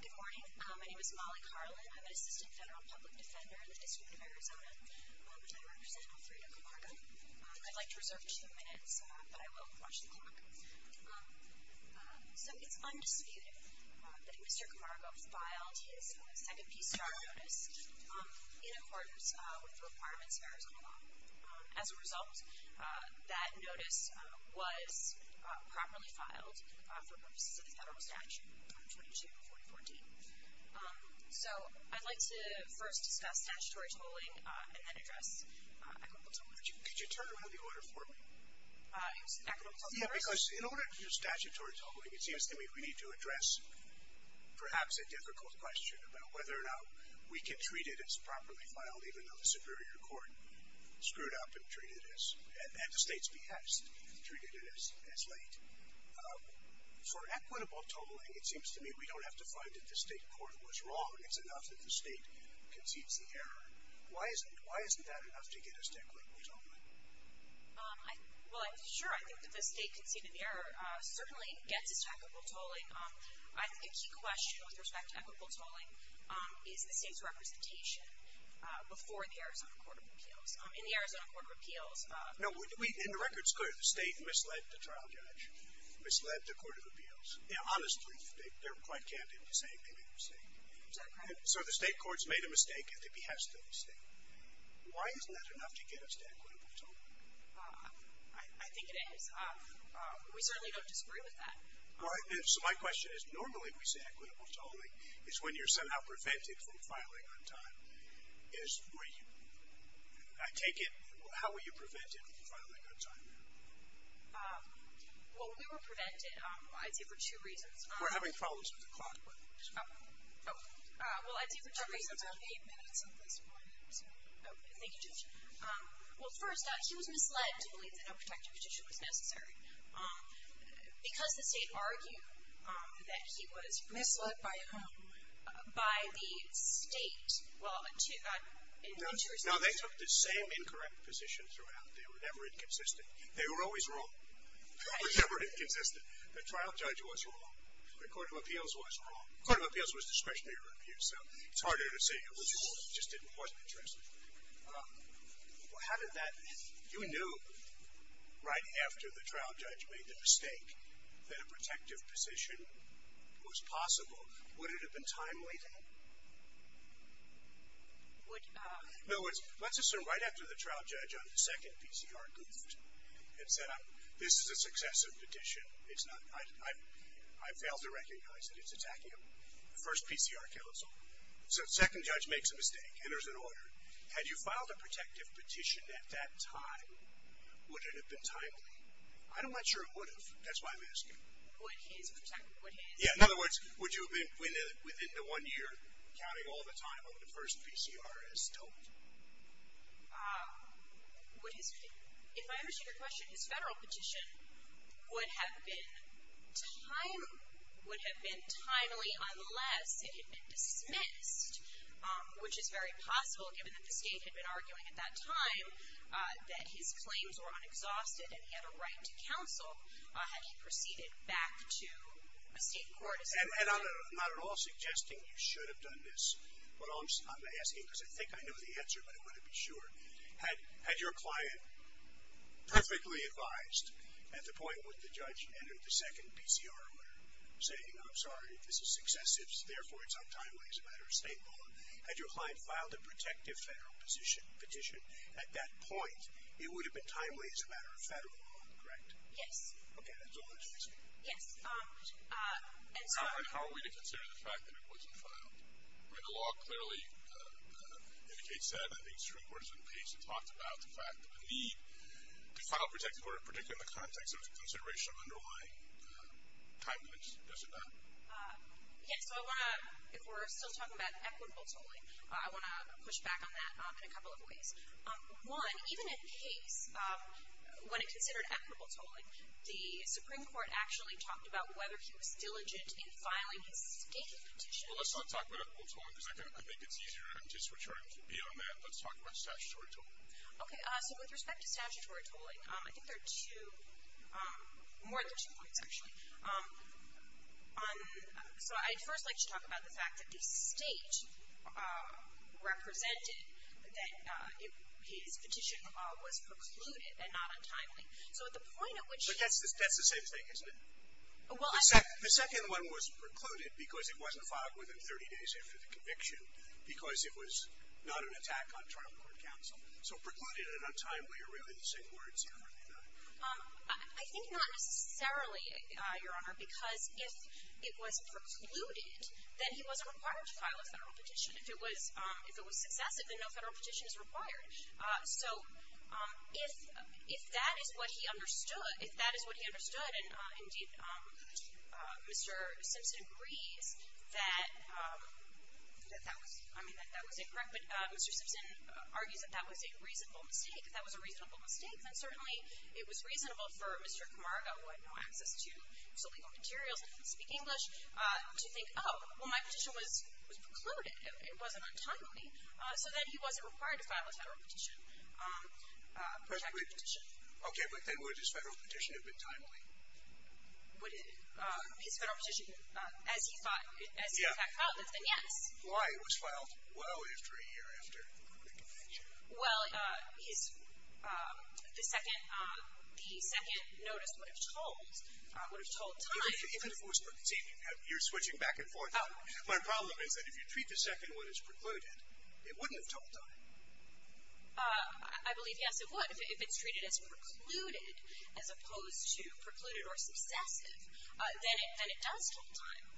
Good morning. My name is Molly Carlin. I'm an Assistant Federal Public Defender in the District of Arizona, and I represent Alfredo Camargo. I'd like to reserve two minutes, but I will watch the clock. So it's undisputed that Mr. Camargo filed his second PCR notice in accordance with the requirements of Arizona law. As a result, that notice was properly filed for purposes of the federal statute, 224014. So I'd like to first discuss statutory tolling and then address equitable tolling. Could you turn around the order for me? Equitable tolling first? Yeah, because in order to do statutory tolling, it seems to me we need to address perhaps a difficult question about whether or not we can treat it as properly filed, even though the Superior Court screwed up and treated it as, at the state's behest, treated it as late. For equitable tolling, it seems to me we don't have to find that the state court was wrong. It's enough that the state concedes the error. Why isn't that enough to get us to equitable tolling? Well, sure, I think that the state conceding the error certainly gets us to equitable tolling. I think a key question with respect to equitable tolling is the state's representation before the Arizona Court of Appeals. In the Arizona Court of Appeals- No, and the record's clear. The state misled the trial judge, misled the Court of Appeals. Honestly, they're quite candid in saying they made a mistake. Is that correct? So the state courts made a mistake at the behest of the state. Why isn't that enough to get us to equitable tolling? I think it is. We certainly don't disagree with that. So my question is, normally we say equitable tolling is when you're somehow prevented from filing on time. I take it, how were you prevented from filing on time? Well, we were prevented, I'd say, for two reasons. We're having problems with the clock. Oh. Well, I'd say for two reasons. We're eight minutes into this point. Thank you, Judge. Well, first, he was misled to believe that no protective petition was necessary. Because the state argued that he was- Misled by whom? By the state. Well, in two respects. No, they took the same incorrect position throughout. They were never inconsistent. They were always wrong. They were never inconsistent. The trial judge was wrong. The Court of Appeals was wrong. The Court of Appeals was discretionary review, so it's harder to say who was wrong. Well, how did that- you knew right after the trial judge made the mistake that a protective position was possible. Would it have been timely, then? Would- In other words, let's assume right after the trial judge on the second PCR goofed and said, this is a successive petition. It's not- I've failed to recognize that it's a tachyon. The first PCR kills all. So the second judge makes a mistake, enters an order. Had you filed a protective petition at that time, would it have been timely? I'm not sure it would have. That's why I'm asking. Would his protective- would his- Yeah, in other words, would you have been, within the one year, counting all the time on the first PCR as stoked? Would his- if I understood your question, his federal petition would have been timely, unless it had been dismissed, which is very possible, given that the state had been arguing at that time that his claims were unexhausted and he had a right to counsel had he proceeded back to a state court. And I'm not at all suggesting you should have done this. I'm asking because I think I know the answer, but I want to be sure. Had your client perfectly advised at the point when the judge entered the second PCR order, saying, I'm sorry, this is successive, therefore it's untimely as a matter of state law. Had your client filed a protective federal petition at that point, it would have been timely as a matter of federal law, correct? Yes. Okay, that's all I'm asking. Yes, and so- How are we to consider the fact that it wasn't filed? I mean, the law clearly indicates that. I think the Supreme Court has been patient and talked about the fact that the need to file a protective order, particularly in the context of consideration of underlying timelines, yes or no? Yes, so I want to- if we're still talking about equitable tolling, I want to push back on that in a couple of ways. One, even in case- when it's considered equitable tolling, the Supreme Court actually talked about whether he was diligent in filing his state petition. Well, let's not talk about equitable tolling because that could make it easier, and just to be on that, let's talk about statutory tolling. Okay, so with respect to statutory tolling, I think there are two- more than two points, actually. So I'd first like to talk about the fact that the state represented that his petition was precluded and not untimely. So at the point at which- But that's the same thing, isn't it? The second one was precluded because it wasn't filed within 30 days after the conviction because it was not an attack on trial court counsel. So precluded and untimely are really the same words here, are they not? I think not necessarily, Your Honor, because if it was precluded, then he wasn't required to file a federal petition. So if that is what he understood, and indeed, Mr. Simpson agrees that that was incorrect, but Mr. Simpson argues that that was a reasonable mistake. If that was a reasonable mistake, then certainly it was reasonable for Mr. Camargo, who had no access to legal materials and didn't speak English, to think, oh, well, my petition was precluded. It wasn't untimely. So then he wasn't required to file a federal petition, a protected petition. Okay, but then would his federal petition have been timely? Would his federal petition, as he thought, as he in fact filed it, then yes. Why? It was filed well after a year after the conviction. Well, his, the second notice would have told, would have told timely. Even if it was, see, you're switching back and forth. My problem is that if you treat the second one as precluded, it wouldn't have told timely. I believe, yes, it would. If it's treated as precluded as opposed to precluded or successive, then it does tell timely.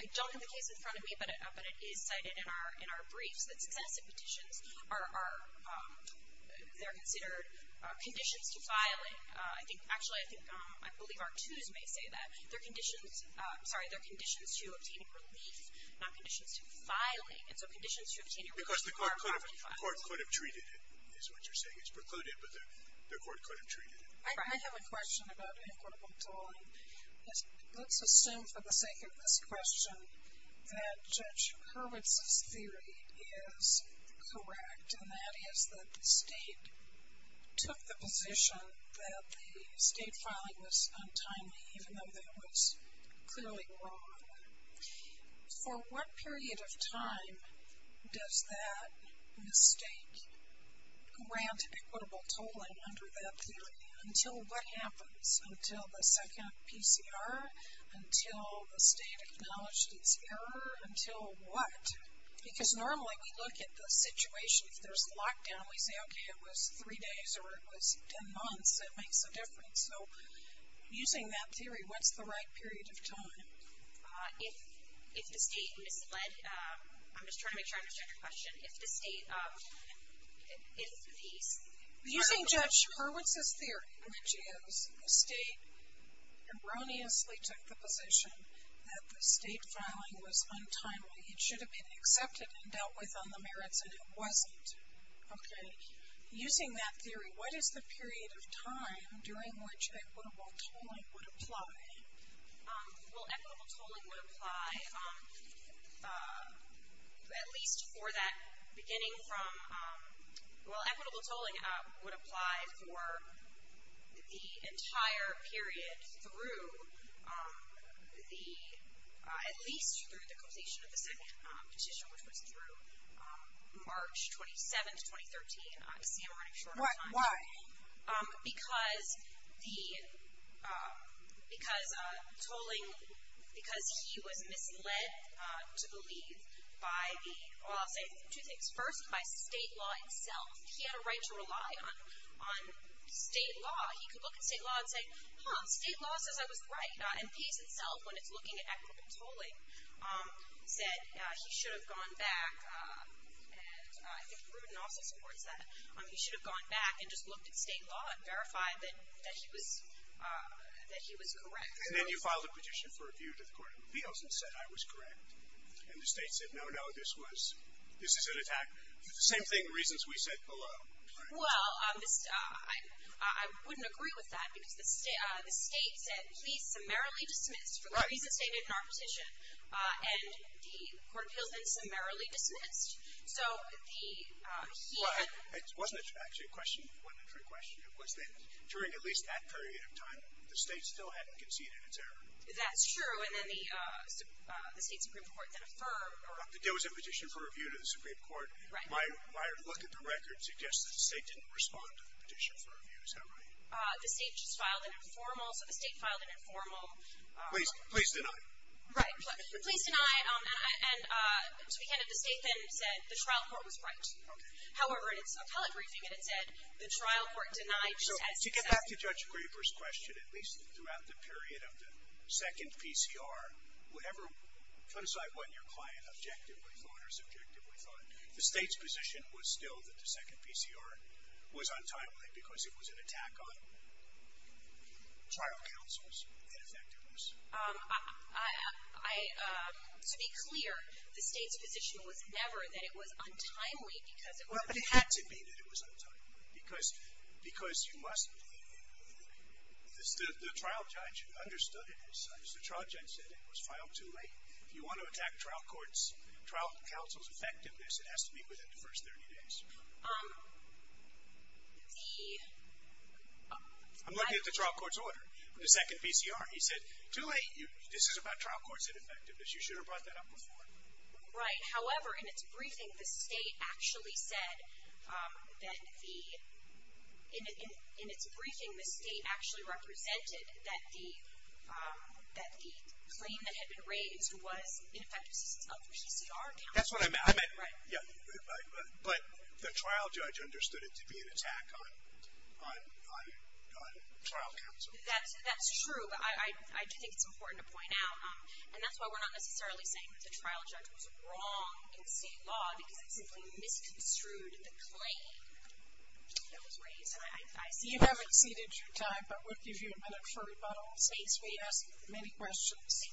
I don't have the case in front of me, but it is cited in our briefs that successive petitions are, they're considered conditions to filing. I think, actually, I think, I believe our twos may say that. They're conditions, sorry, they're conditions to obtaining relief, not conditions to filing. And so conditions to obtaining relief are commonly filed. Because the court could have treated it, is what you're saying. It's precluded, but the court could have treated it. I have a question about equitable tolling. Let's assume for the sake of this question that Judge Hurwitz's theory is correct, and that is that the state took the position that the state filing was untimely, even though that was clearly wrong. For what period of time does that mistake grant equitable tolling under that theory? Until what happens? Until the second PCR? Until the state acknowledged its error? Until what? Because normally we look at the situation, if there's lockdown, we say, okay, it was three days or it was ten months, it makes a difference. So using that theory, what's the right period of time? If the state misled, I'm just trying to make sure I understand your question, if the state, if the... Using Judge Hurwitz's theory, which is the state erroneously took the position that the state filing was untimely, it should have been accepted and dealt with on the merits, and it wasn't. Okay. Using that theory, what is the period of time during which equitable tolling would apply? Well, equitable tolling would apply at least for that beginning from... At least through the quotation of the second petition, which was through March 27, 2013. Why? Because he was misled to believe by the... Well, I'll say two things. First, by state law itself. He had a right to rely on state law. He could look at state law and say, huh, state law says I was right. MPs itself, when it's looking at equitable tolling, said he should have gone back. And I think Pruden also supports that. He should have gone back and just looked at state law and verified that he was correct. And then you filed a petition for review to the Court of Appeals and said, I was correct. And the state said, no, no, this is an attack. Same thing, reasons we said below. Well, I wouldn't agree with that because the state said, please summarily dismiss... Right. For the reasons stated in our petition. And the Court of Appeals then summarily dismissed. So he had... Right. It wasn't actually a question. It wasn't actually a question. It was that during at least that period of time, the state still hadn't conceded its error. That's true. And then the state Supreme Court then affirmed... There was a petition for review to the Supreme Court. Right. My look at the record suggests that the state didn't respond to the petition for review. Is that right? The state just filed an informal... So the state filed an informal... Please. Please deny. Right. Please deny. And to be candid, the state then said the trial court was right. Okay. However, in its appellate briefing, it had said the trial court denied... So to get back to Judge Graber's question, at least throughout the period of the second PCR, whatever, put aside what your client objectively thought or subjectively thought, the state's position was still that the second PCR was untimely because it was an attack on trial counsel's ineffectiveness. I... To be clear, the state's position was never that it was untimely because it was... Well, it had to be that it was untimely because you must... The trial judge understood it as such. The trial judge said it was filed too late. If you want to attack trial counsel's effectiveness, it has to be within the first 30 days. The... I'm looking at the trial court's order, the second PCR. He said, too late. This is about trial court's ineffectiveness. You should have brought that up before. However, in its briefing, the state actually said that the... that the claim that had been raised was ineffectiveness of the PCR count. That's what I meant. Right. But the trial judge understood it to be an attack on trial counsel. That's true, but I do think it's important to point out, and that's why we're not necessarily saying that the trial judge was wrong in the state law because it simply misconstrued the claim that was raised. You have exceeded your time, but we'll give you a minute for rebuttal. Since we asked many questions,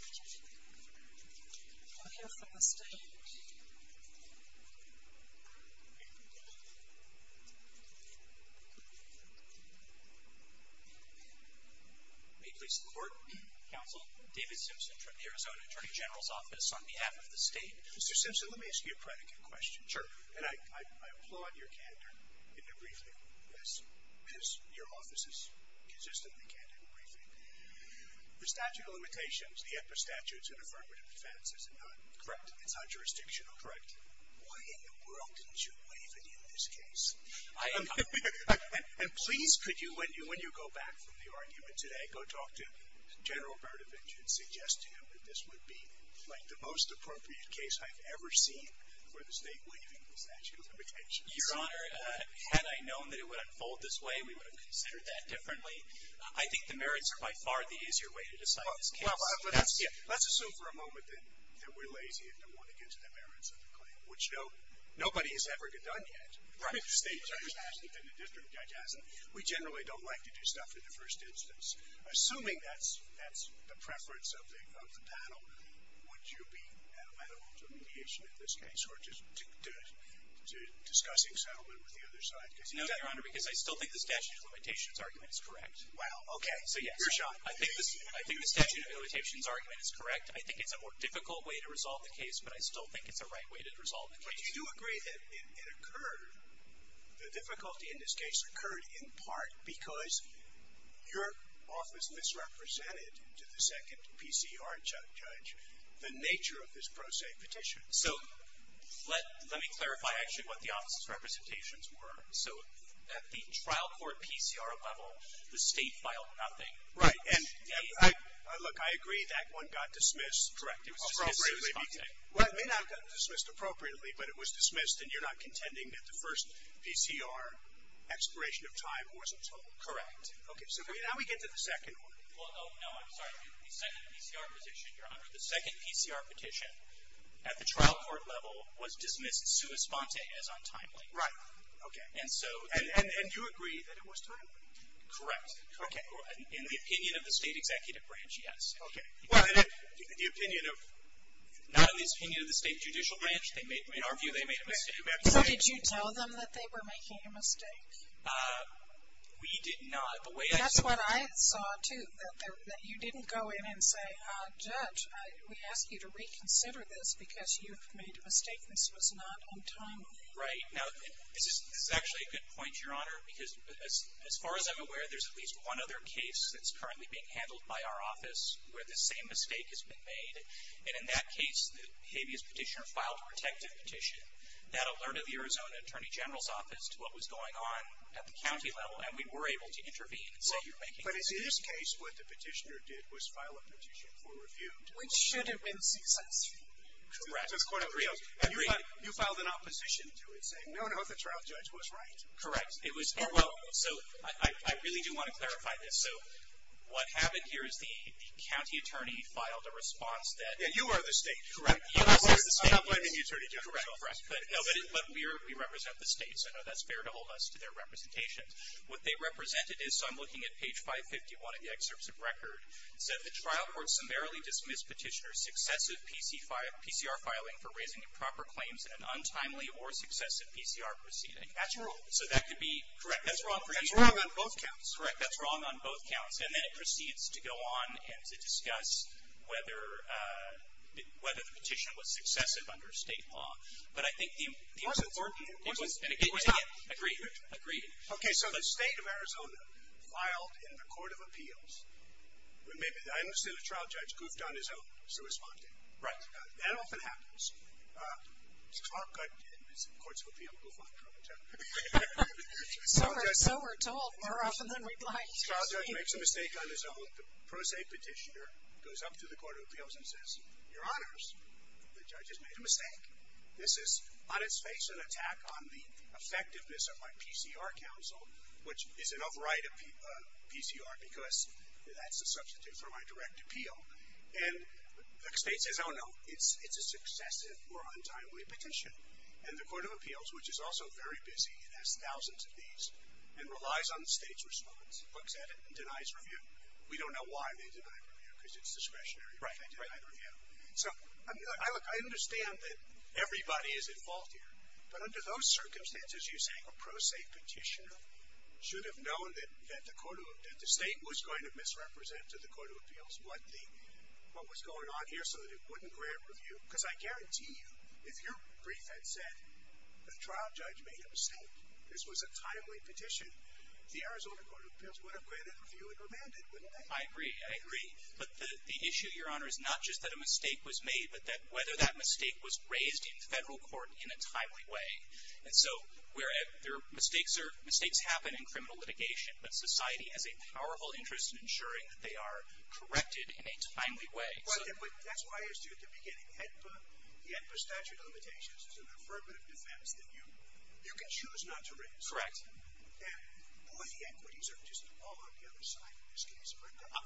we'll hear from the state. May it please the court. Counsel, David Simpson from the Arizona Attorney General's Office on behalf of the state. Mr. Simpson, let me ask you a predicate question. Sure. And I applaud your candor in the briefing, as your office is consistently candid in briefing. The statute of limitations, the epistatutes in affirmative defense, is it not? Correct. It's not jurisdictional? Correct. Why in the world didn't you waive it in this case? I... And please, could you, when you go back from the argument today, go talk to General Berdovich and suggest to him that this would be, like, the most appropriate case I've ever seen where the state waiving the statute of limitations. Your Honor, had I known that it would unfold this way, we would have considered that differently. I think the merits are by far the easier way to decide this case. Let's assume for a moment that we're lazy and don't want to get into the merits of the claim, which nobody has ever done yet. Right. The state judge hasn't and the district judge hasn't. We generally don't like to do stuff in the first instance. Assuming that's the preference of the panel, would you be at a level to mediation in this case or to discussing settlement with the other side? No, Your Honor, because I still think the statute of limitations argument is correct. Wow. Okay. So, yes. Your shot. I think the statute of limitations argument is correct. I think it's a more difficult way to resolve the case, but I still think it's the right way to resolve the case. But do you agree that it occurred, the difficulty in this case occurred in part because your office misrepresented to the second PCR judge the nature of this pro se petition? So, let me clarify actually what the office's representations were. So, at the trial court PCR level, the state filed nothing. Right. And, look, I agree that one got dismissed. Correct. It was dismissed. Well, it may not have gotten dismissed appropriately, but it was dismissed, and you're not contending that the first PCR expiration of time wasn't total. Correct. Okay. So, now we get to the second one. Oh, no, I'm sorry. The second PCR petition, Your Honor. The second PCR petition at the trial court level was dismissed sua sponte as untimely. Right. Okay. And so. And you agree that it was timely? Correct. Okay. In the opinion of the state executive branch, yes. Okay. Well, in the opinion of, not in the opinion of the state judicial branch, in our view they made a mistake. So, did you tell them that they were making a mistake? We did not. That's what I saw, too, that you didn't go in and say, Judge, we ask you to reconsider this because you've made a mistake. This was not untimely. Right. Now, this is actually a good point, Your Honor, because as far as I'm aware there's at least one other case that's currently being handled by our office where the same mistake has been made, and in that case the habeas petitioner filed a protective petition. That alerted the Arizona Attorney General's office to what was going on at the county level, and we were able to intervene and say, you're making a mistake. But in this case what the petitioner did was file a petition for review. Which should have been successful. Correct. And you filed an opposition to it saying, no, no, the trial judge was right. Correct. It was. So, I really do want to clarify this. So, what happened here is the county attorney filed a response that. Yeah, you are the state. Correct. I'm not blaming you, Attorney General. Correct. But we represent the state, so I know that's fair to hold us to their representation. What they represented is, so I'm looking at page 551 of the excerpts of record. It said the trial court summarily dismissed petitioner's successive PCR filing for raising improper claims in an untimely or successive PCR proceeding. That's wrong. So, that could be. Correct. That's wrong on both counts. Correct. That's wrong on both counts. And then it proceeds to go on and to discuss whether the petition was successive under state law. But I think the. It wasn't. Stop. Agreed. Agreed. Okay. So, the state of Arizona filed in the Court of Appeals. I understand the trial judge goofed on his own. So, responding. Right. That often happens. It's not good. Courts of Appeals goof on the trial judge. So, we're told more often than we'd like. The trial judge makes a mistake on his own. The pro se petitioner goes up to the Court of Appeals and says, your honors, the judge has made a mistake. This is, on its face, an attack on the effectiveness of my PCR counsel, which is an override of PCR because that's a substitute for my direct appeal. And the state says, oh, no, it's a successive or untimely petition. And the Court of Appeals, which is also very busy and has thousands of these and relies on the state's response, looks at it and denies review. We don't know why they deny review because it's discretionary. Right. So, look, I understand that everybody is at fault here. But under those circumstances, you're saying a pro se petitioner should have known that the state was going to misrepresent to the Court of Appeals what was going on here so that it wouldn't grant review? Because I guarantee you, if your brief had said the trial judge made a mistake, this was a timely petition, the Arizona Court of Appeals would have granted review and remanded, wouldn't they? I agree. I agree. But the issue, Your Honor, is not just that a mistake was made, but that whether that mistake was raised in federal court in a timely way. And so, mistakes happen in criminal litigation. But society has a powerful interest in ensuring that they are corrected in a timely way. But that's why I asked you at the beginning, the AEDPA statute of limitations is an affirmative defense that you can choose not to raise. Correct. And, boy, the equities are just all on the other side in this case.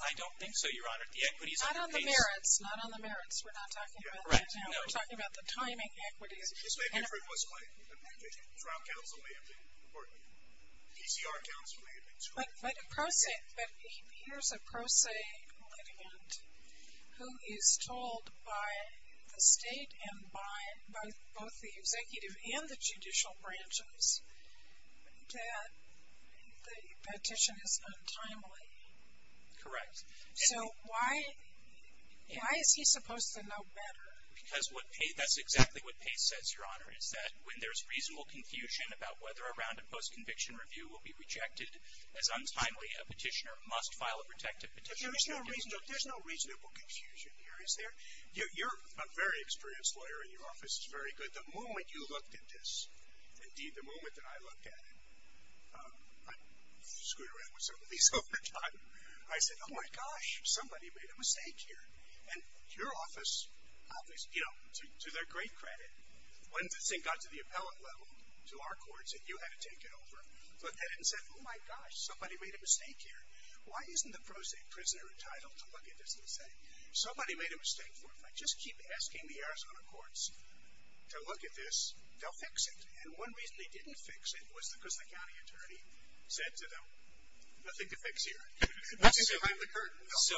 I don't think so, Your Honor. Not on the merits. Not on the merits. We're not talking about that now. We're talking about the timing equities. If it was a trial counseling or ECR counseling. But here's a pro se litigant who is told by the state and by both the executive and the judicial branches that the petition is untimely. Correct. So why is he supposed to know better? Because that's exactly what Pace says, Your Honor, is that when there's reasonable confusion about whether a round of post-conviction review will be rejected as untimely, a petitioner must file a protective petition. But there's no reasonable confusion here, is there? You're a very experienced lawyer and your office is very good. The moment you looked at this, indeed, the moment that I looked at it, I screw around with some of these all the time. I said, oh, my gosh, somebody made a mistake here. And your office obviously, you know, to their great credit, when this thing got to the appellate level to our courts and you had to take it over, looked at it and said, oh, my gosh, somebody made a mistake here. Why isn't the pro se prisoner entitled to look at this and say, somebody made a mistake. If I just keep asking the Arizona courts to look at this, they'll fix it. And one reason they didn't fix it was because the county attorney said to them, nothing to fix here. Nothing behind the curtain. So,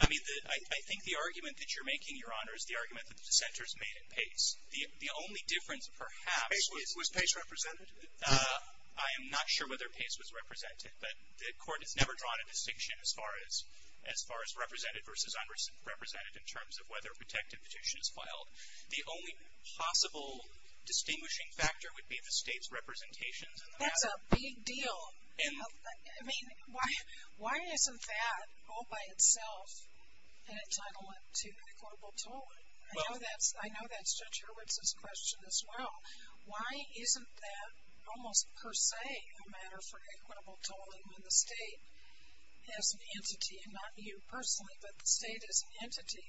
I mean, I think the argument that you're making, Your Honor, is the argument that the dissenters made at pace. The only difference, perhaps. Was pace represented? I am not sure whether pace was represented, but the Court has never drawn a distinction as far as represented versus unrepresented in terms of whether a protective petition is filed. The only possible distinguishing factor would be the state's representation. That's a big deal. I mean, why isn't that all by itself an entitlement to equitable tolling? I know that's Judge Hurwitz's question as well. Why isn't that almost per se a matter for equitable tolling when the state has an entity, and not you personally, but the state as an entity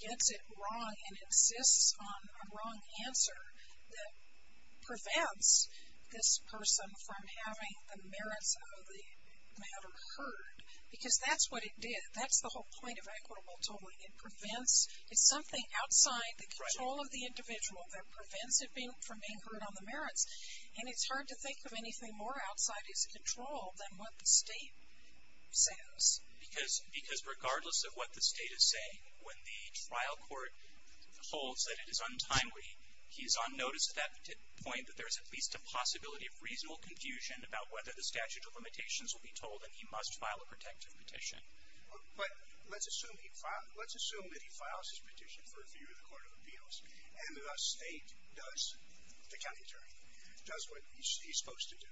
gets it wrong and insists on a wrong answer that prevents this person from having the merits of the matter heard? Because that's what it did. That's the whole point of equitable tolling. It prevents, it's something outside the control of the individual that prevents it from being heard on the merits. And it's hard to think of anything more outside its control than what the state says. Because regardless of what the state is saying, when the trial court holds that it is untimely, he is on notice at that point that there is at least a possibility of reasonable confusion about whether the statute of limitations will be tolled and he must file a protective petition. But let's assume that he files his petition for review in the Court of Appeals, and the state does, the county attorney, does what he's supposed to do.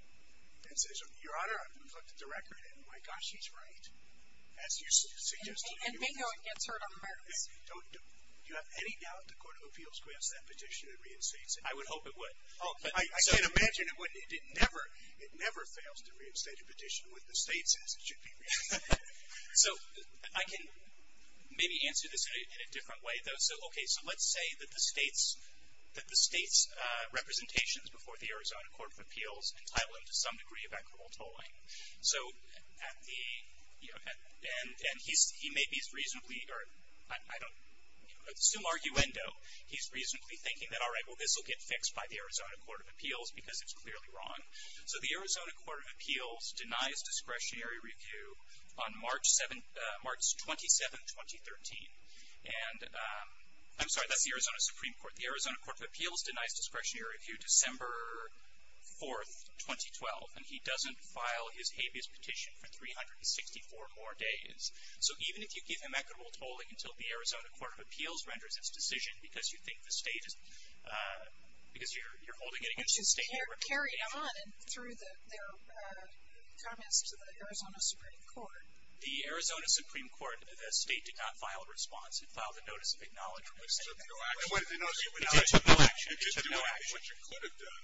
And says, Your Honor, I've looked at the record, and my gosh, he's right. As you suggested. And bingo, it gets heard on the merits. Do you have any doubt the Court of Appeals grants that petition a reinstatement? I would hope it would. I can't imagine it wouldn't. It never fails to reinstate a petition when the state says it should be reinstated. So I can maybe answer this in a different way, though. So, okay, so let's say that the state's representations before the Arizona Court of Appeals entitle him to some degree of equitable tolling. So at the, you know, and he may be reasonably, or I don't, you know, at some arguendo, he's reasonably thinking that, all right, well this will get fixed by the Arizona Court of Appeals because it's clearly wrong. So the Arizona Court of Appeals denies discretionary review on March 7th, March 27th, 2013. And I'm sorry, that's the Arizona Supreme Court. The Arizona Court of Appeals denies discretionary review December 4th, 2012. And he doesn't file his habeas petition for 364 more days. So even if you give him equitable tolling until the Arizona Court of Appeals renders its decision because you think the state is, because you're holding it against the state. Which is carried on through their comments to the Arizona Supreme Court. The Arizona Supreme Court, the state did not file a response. It filed a notice of acknowledgement. It took no action. No, it took no action. It took no action. What you could have done,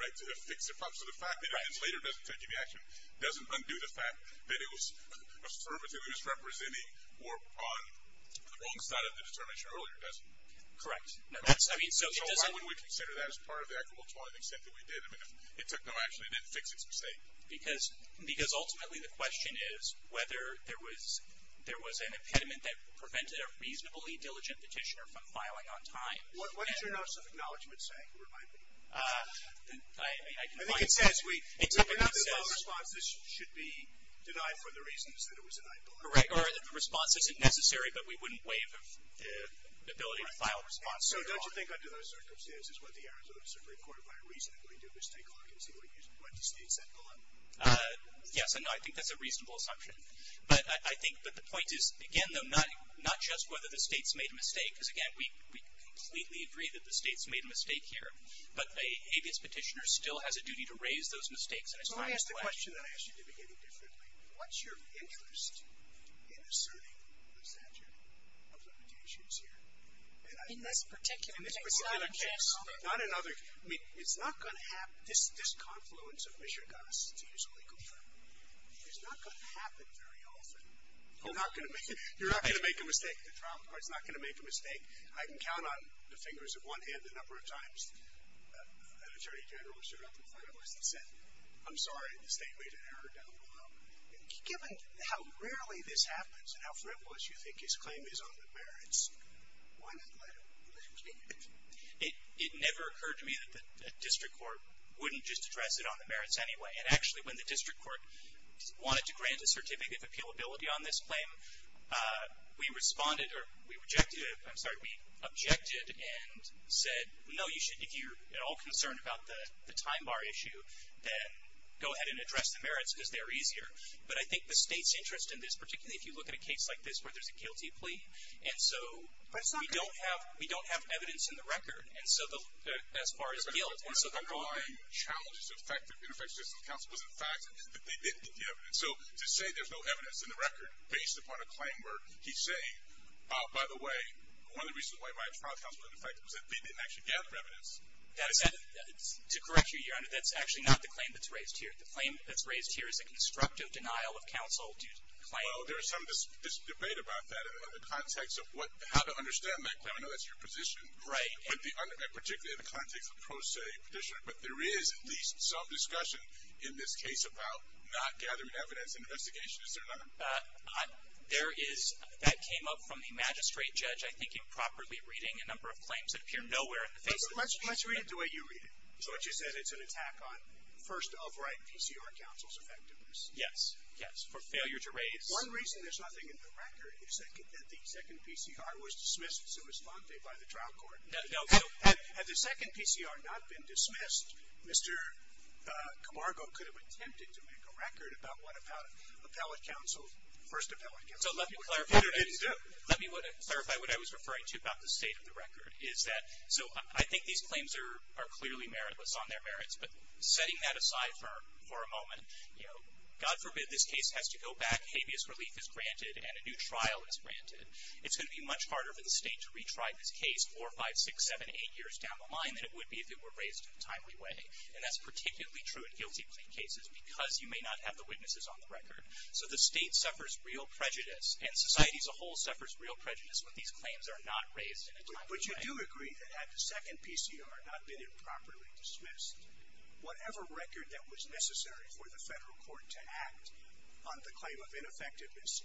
right, to fix the problem. So the fact that it was later doesn't take any action doesn't undo the fact that it was affirmatively misrepresenting or on the wrong side of the determination earlier, does it? Correct. I mean, so why wouldn't we consider that as part of the equitable tolling the extent that we did? I mean, if it took no action, it didn't fix its mistake. Because ultimately the question is whether there was an impediment that prevented a reasonably diligent petitioner from filing on time. What does your notice of acknowledgment say? Remind me. I can point to it. I think it says we – It typically says – We're not doing no response. This should be denied for the reasons that it was denied. Correct. Or the response isn't necessary, but we wouldn't waive the ability to file a response later on. Right. So don't you think under those circumstances, what the errors of the Supreme Court, by a reason, are going to do is take a look and see what the state said go on? Yes, and I think that's a reasonable assumption. But I think that the point is, again, though, not just whether the state's made a mistake, because, again, we completely agree that the state's made a mistake here, but a habeas petitioner still has a duty to raise those mistakes. Let me ask the question that I asked you at the beginning differently. What's your interest in asserting the statute of limitations here? In this particular case. Not in other cases. I mean, it's not going to happen. This confluence of mishegoss, to use a legal term, is not going to happen very often. You're not going to make a mistake. The trial court's not going to make a mistake. I can count on the fingers of one hand the number of times an attorney general showed up and said, I'm sorry, the state made an error down below. Given how rarely this happens and how frivolous you think his claim is on the merits, why not let him? It never occurred to me that the district court wouldn't just address it on the merits anyway. And actually when the district court wanted to grant a certificate of appealability on this claim, we responded or we objected and said, no, if you're at all concerned about the time bar issue, then go ahead and address the merits because they're easier. But I think the state's interest in this, particularly if you look at a case like this where there's a guilty plea, and so we don't have evidence in the record as far as guilt. One of the underlying challenges of ineffective justice counsel was the fact that they didn't get the evidence. So to say there's no evidence in the record based upon a claim where he's saying, by the way, one of the reasons why my trial counsel was ineffective was that they didn't actually gather evidence. To correct you, Your Honor, that's actually not the claim that's raised here. The claim that's raised here is a constructive denial of counsel. Well, there is some debate about that in the context of how to understand that claim. I know that's your position. Right. Particularly in the context of pro se petitioning. But there is at least some discussion in this case about not gathering evidence in an investigation, is there not? There is. That came up from the magistrate judge, I think, improperly reading a number of claims that appear nowhere in the face of the magistrate. Let's read it the way you read it. So what you said, it's an attack on first of right PCR counsel's effectiveness. Yes, yes. For failure to raise. One reason there's nothing in the record is that the second PCR was dismissed sui sante by the trial court. Had the second PCR not been dismissed, Mr. Camargo could have attempted to make a record about what first appellate counsel did. Let me clarify what I was referring to about the state of the record. So I think these claims are clearly meritless on their merits, but setting that aside for a moment, God forbid this case has to go back, habeas relief is granted, and a new trial is granted. It's going to be much harder for the state to retry this case four, five, six, seven, eight years down the line than it would be if it were raised in a timely way. And that's particularly true in guilty plea cases because you may not have the witnesses on the record. So the state suffers real prejudice, and society as a whole suffers real prejudice when these claims are not raised in a timely way. But you do agree that had the second PCR not been improperly dismissed, whatever record that was necessary for the federal court to act on the claim of ineffectiveness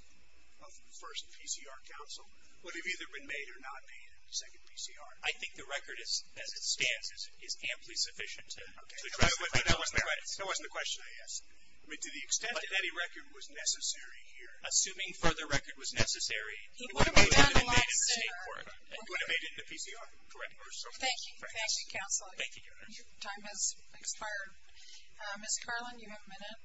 of the first PCR counsel would have either been made or not made in the second PCR. I think the record as it stands is amply sufficient. Okay. That wasn't the question. Yes. I mean, to the extent that any record was necessary here. Assuming further record was necessary, he would have made it in the state court. He would have made it in the PCR. Thank you. Thank you, counsel. Thank you, Your Honor. Your time has expired. Ms. Carlin, you have a minute.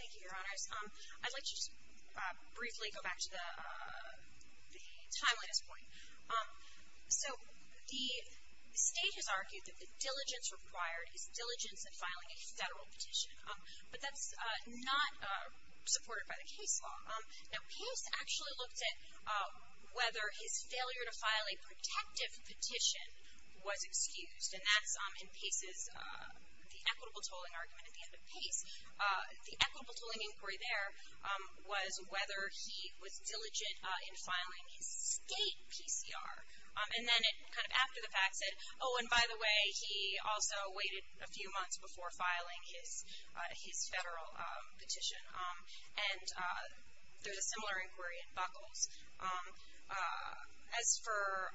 Thank you, Your Honors. I'd like to just briefly go back to the timeliness point. So the state has argued that the diligence required is diligence in filing a federal petition. But that's not supported by the case law. Now, Pace actually looked at whether his failure to file a protective petition was excused. And that's in Pace's, the equitable tolling argument at the end of Pace. The equitable tolling inquiry there was whether he was diligent in filing his state PCR. And then it kind of after the fact said, oh, and by the way, he also waited a few months before filing his federal petition. And there's a similar inquiry in Buckles. As for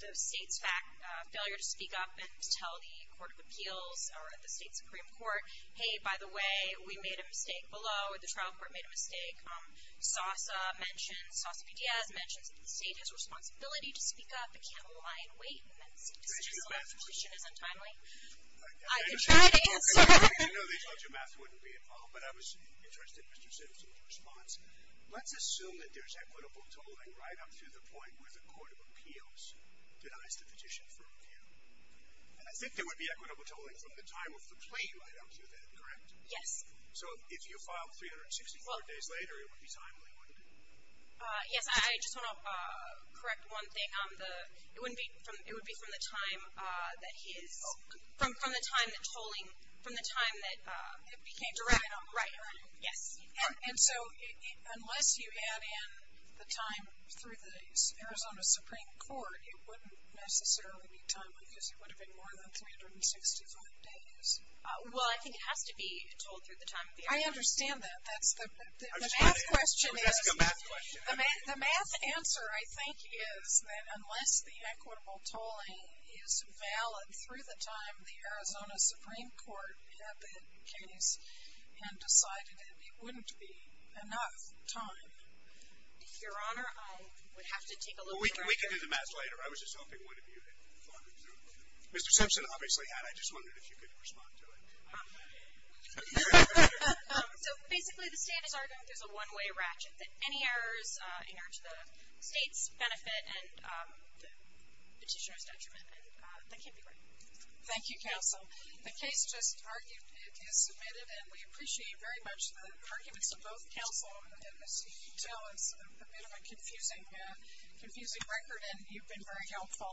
the state's failure to speak up and to tell the Court of Appeals or the state Supreme Court, hey, by the way, we made a mistake below, or the trial court made a mistake, SOSA mentions, SOSA-PDS mentions that the state has a responsibility to speak up but can't rely on wait and that the state decision to file a petition is untimely. I can try to answer. You know these larger maps wouldn't be involved, but I was interested, Mr. Simpson, in your response. Let's assume that there's equitable tolling right up to the point where the Court of Appeals denies the petition for appeal. And I think there would be equitable tolling from the time of the plea right up to then, correct? Yes. So if you filed 364 days later, it would be timely, wouldn't it? Yes, I just want to correct one thing. It would be from the time that he is, from the time that tolling, from the time that. It became direct. Right. Yes. And so unless you add in the time through the Arizona Supreme Court, it wouldn't necessarily be timely because it would have been more than 365 days. Well, I think it has to be tolled through the time of the appeal. I understand that. The math question is. Let me ask a math question. The math answer, I think, is that unless the equitable tolling is valid through the time the Arizona Supreme Court had the case and decided it, it wouldn't be enough time. Your Honor, I would have to take a little further. We can do the math later. I was just hoping one of you had thought it through. Mr. Simpson obviously had. I just wondered if you could respond to it. So basically the state is arguing that there's a one-way ratchet, that any errors are to the state's benefit and the petitioner's detriment, and that can't be right. Thank you, counsel. The case just argued is submitted, and we appreciate very much the arguments of both counsel and as you can tell, it's a bit of a confusing record, and you've been very helpful.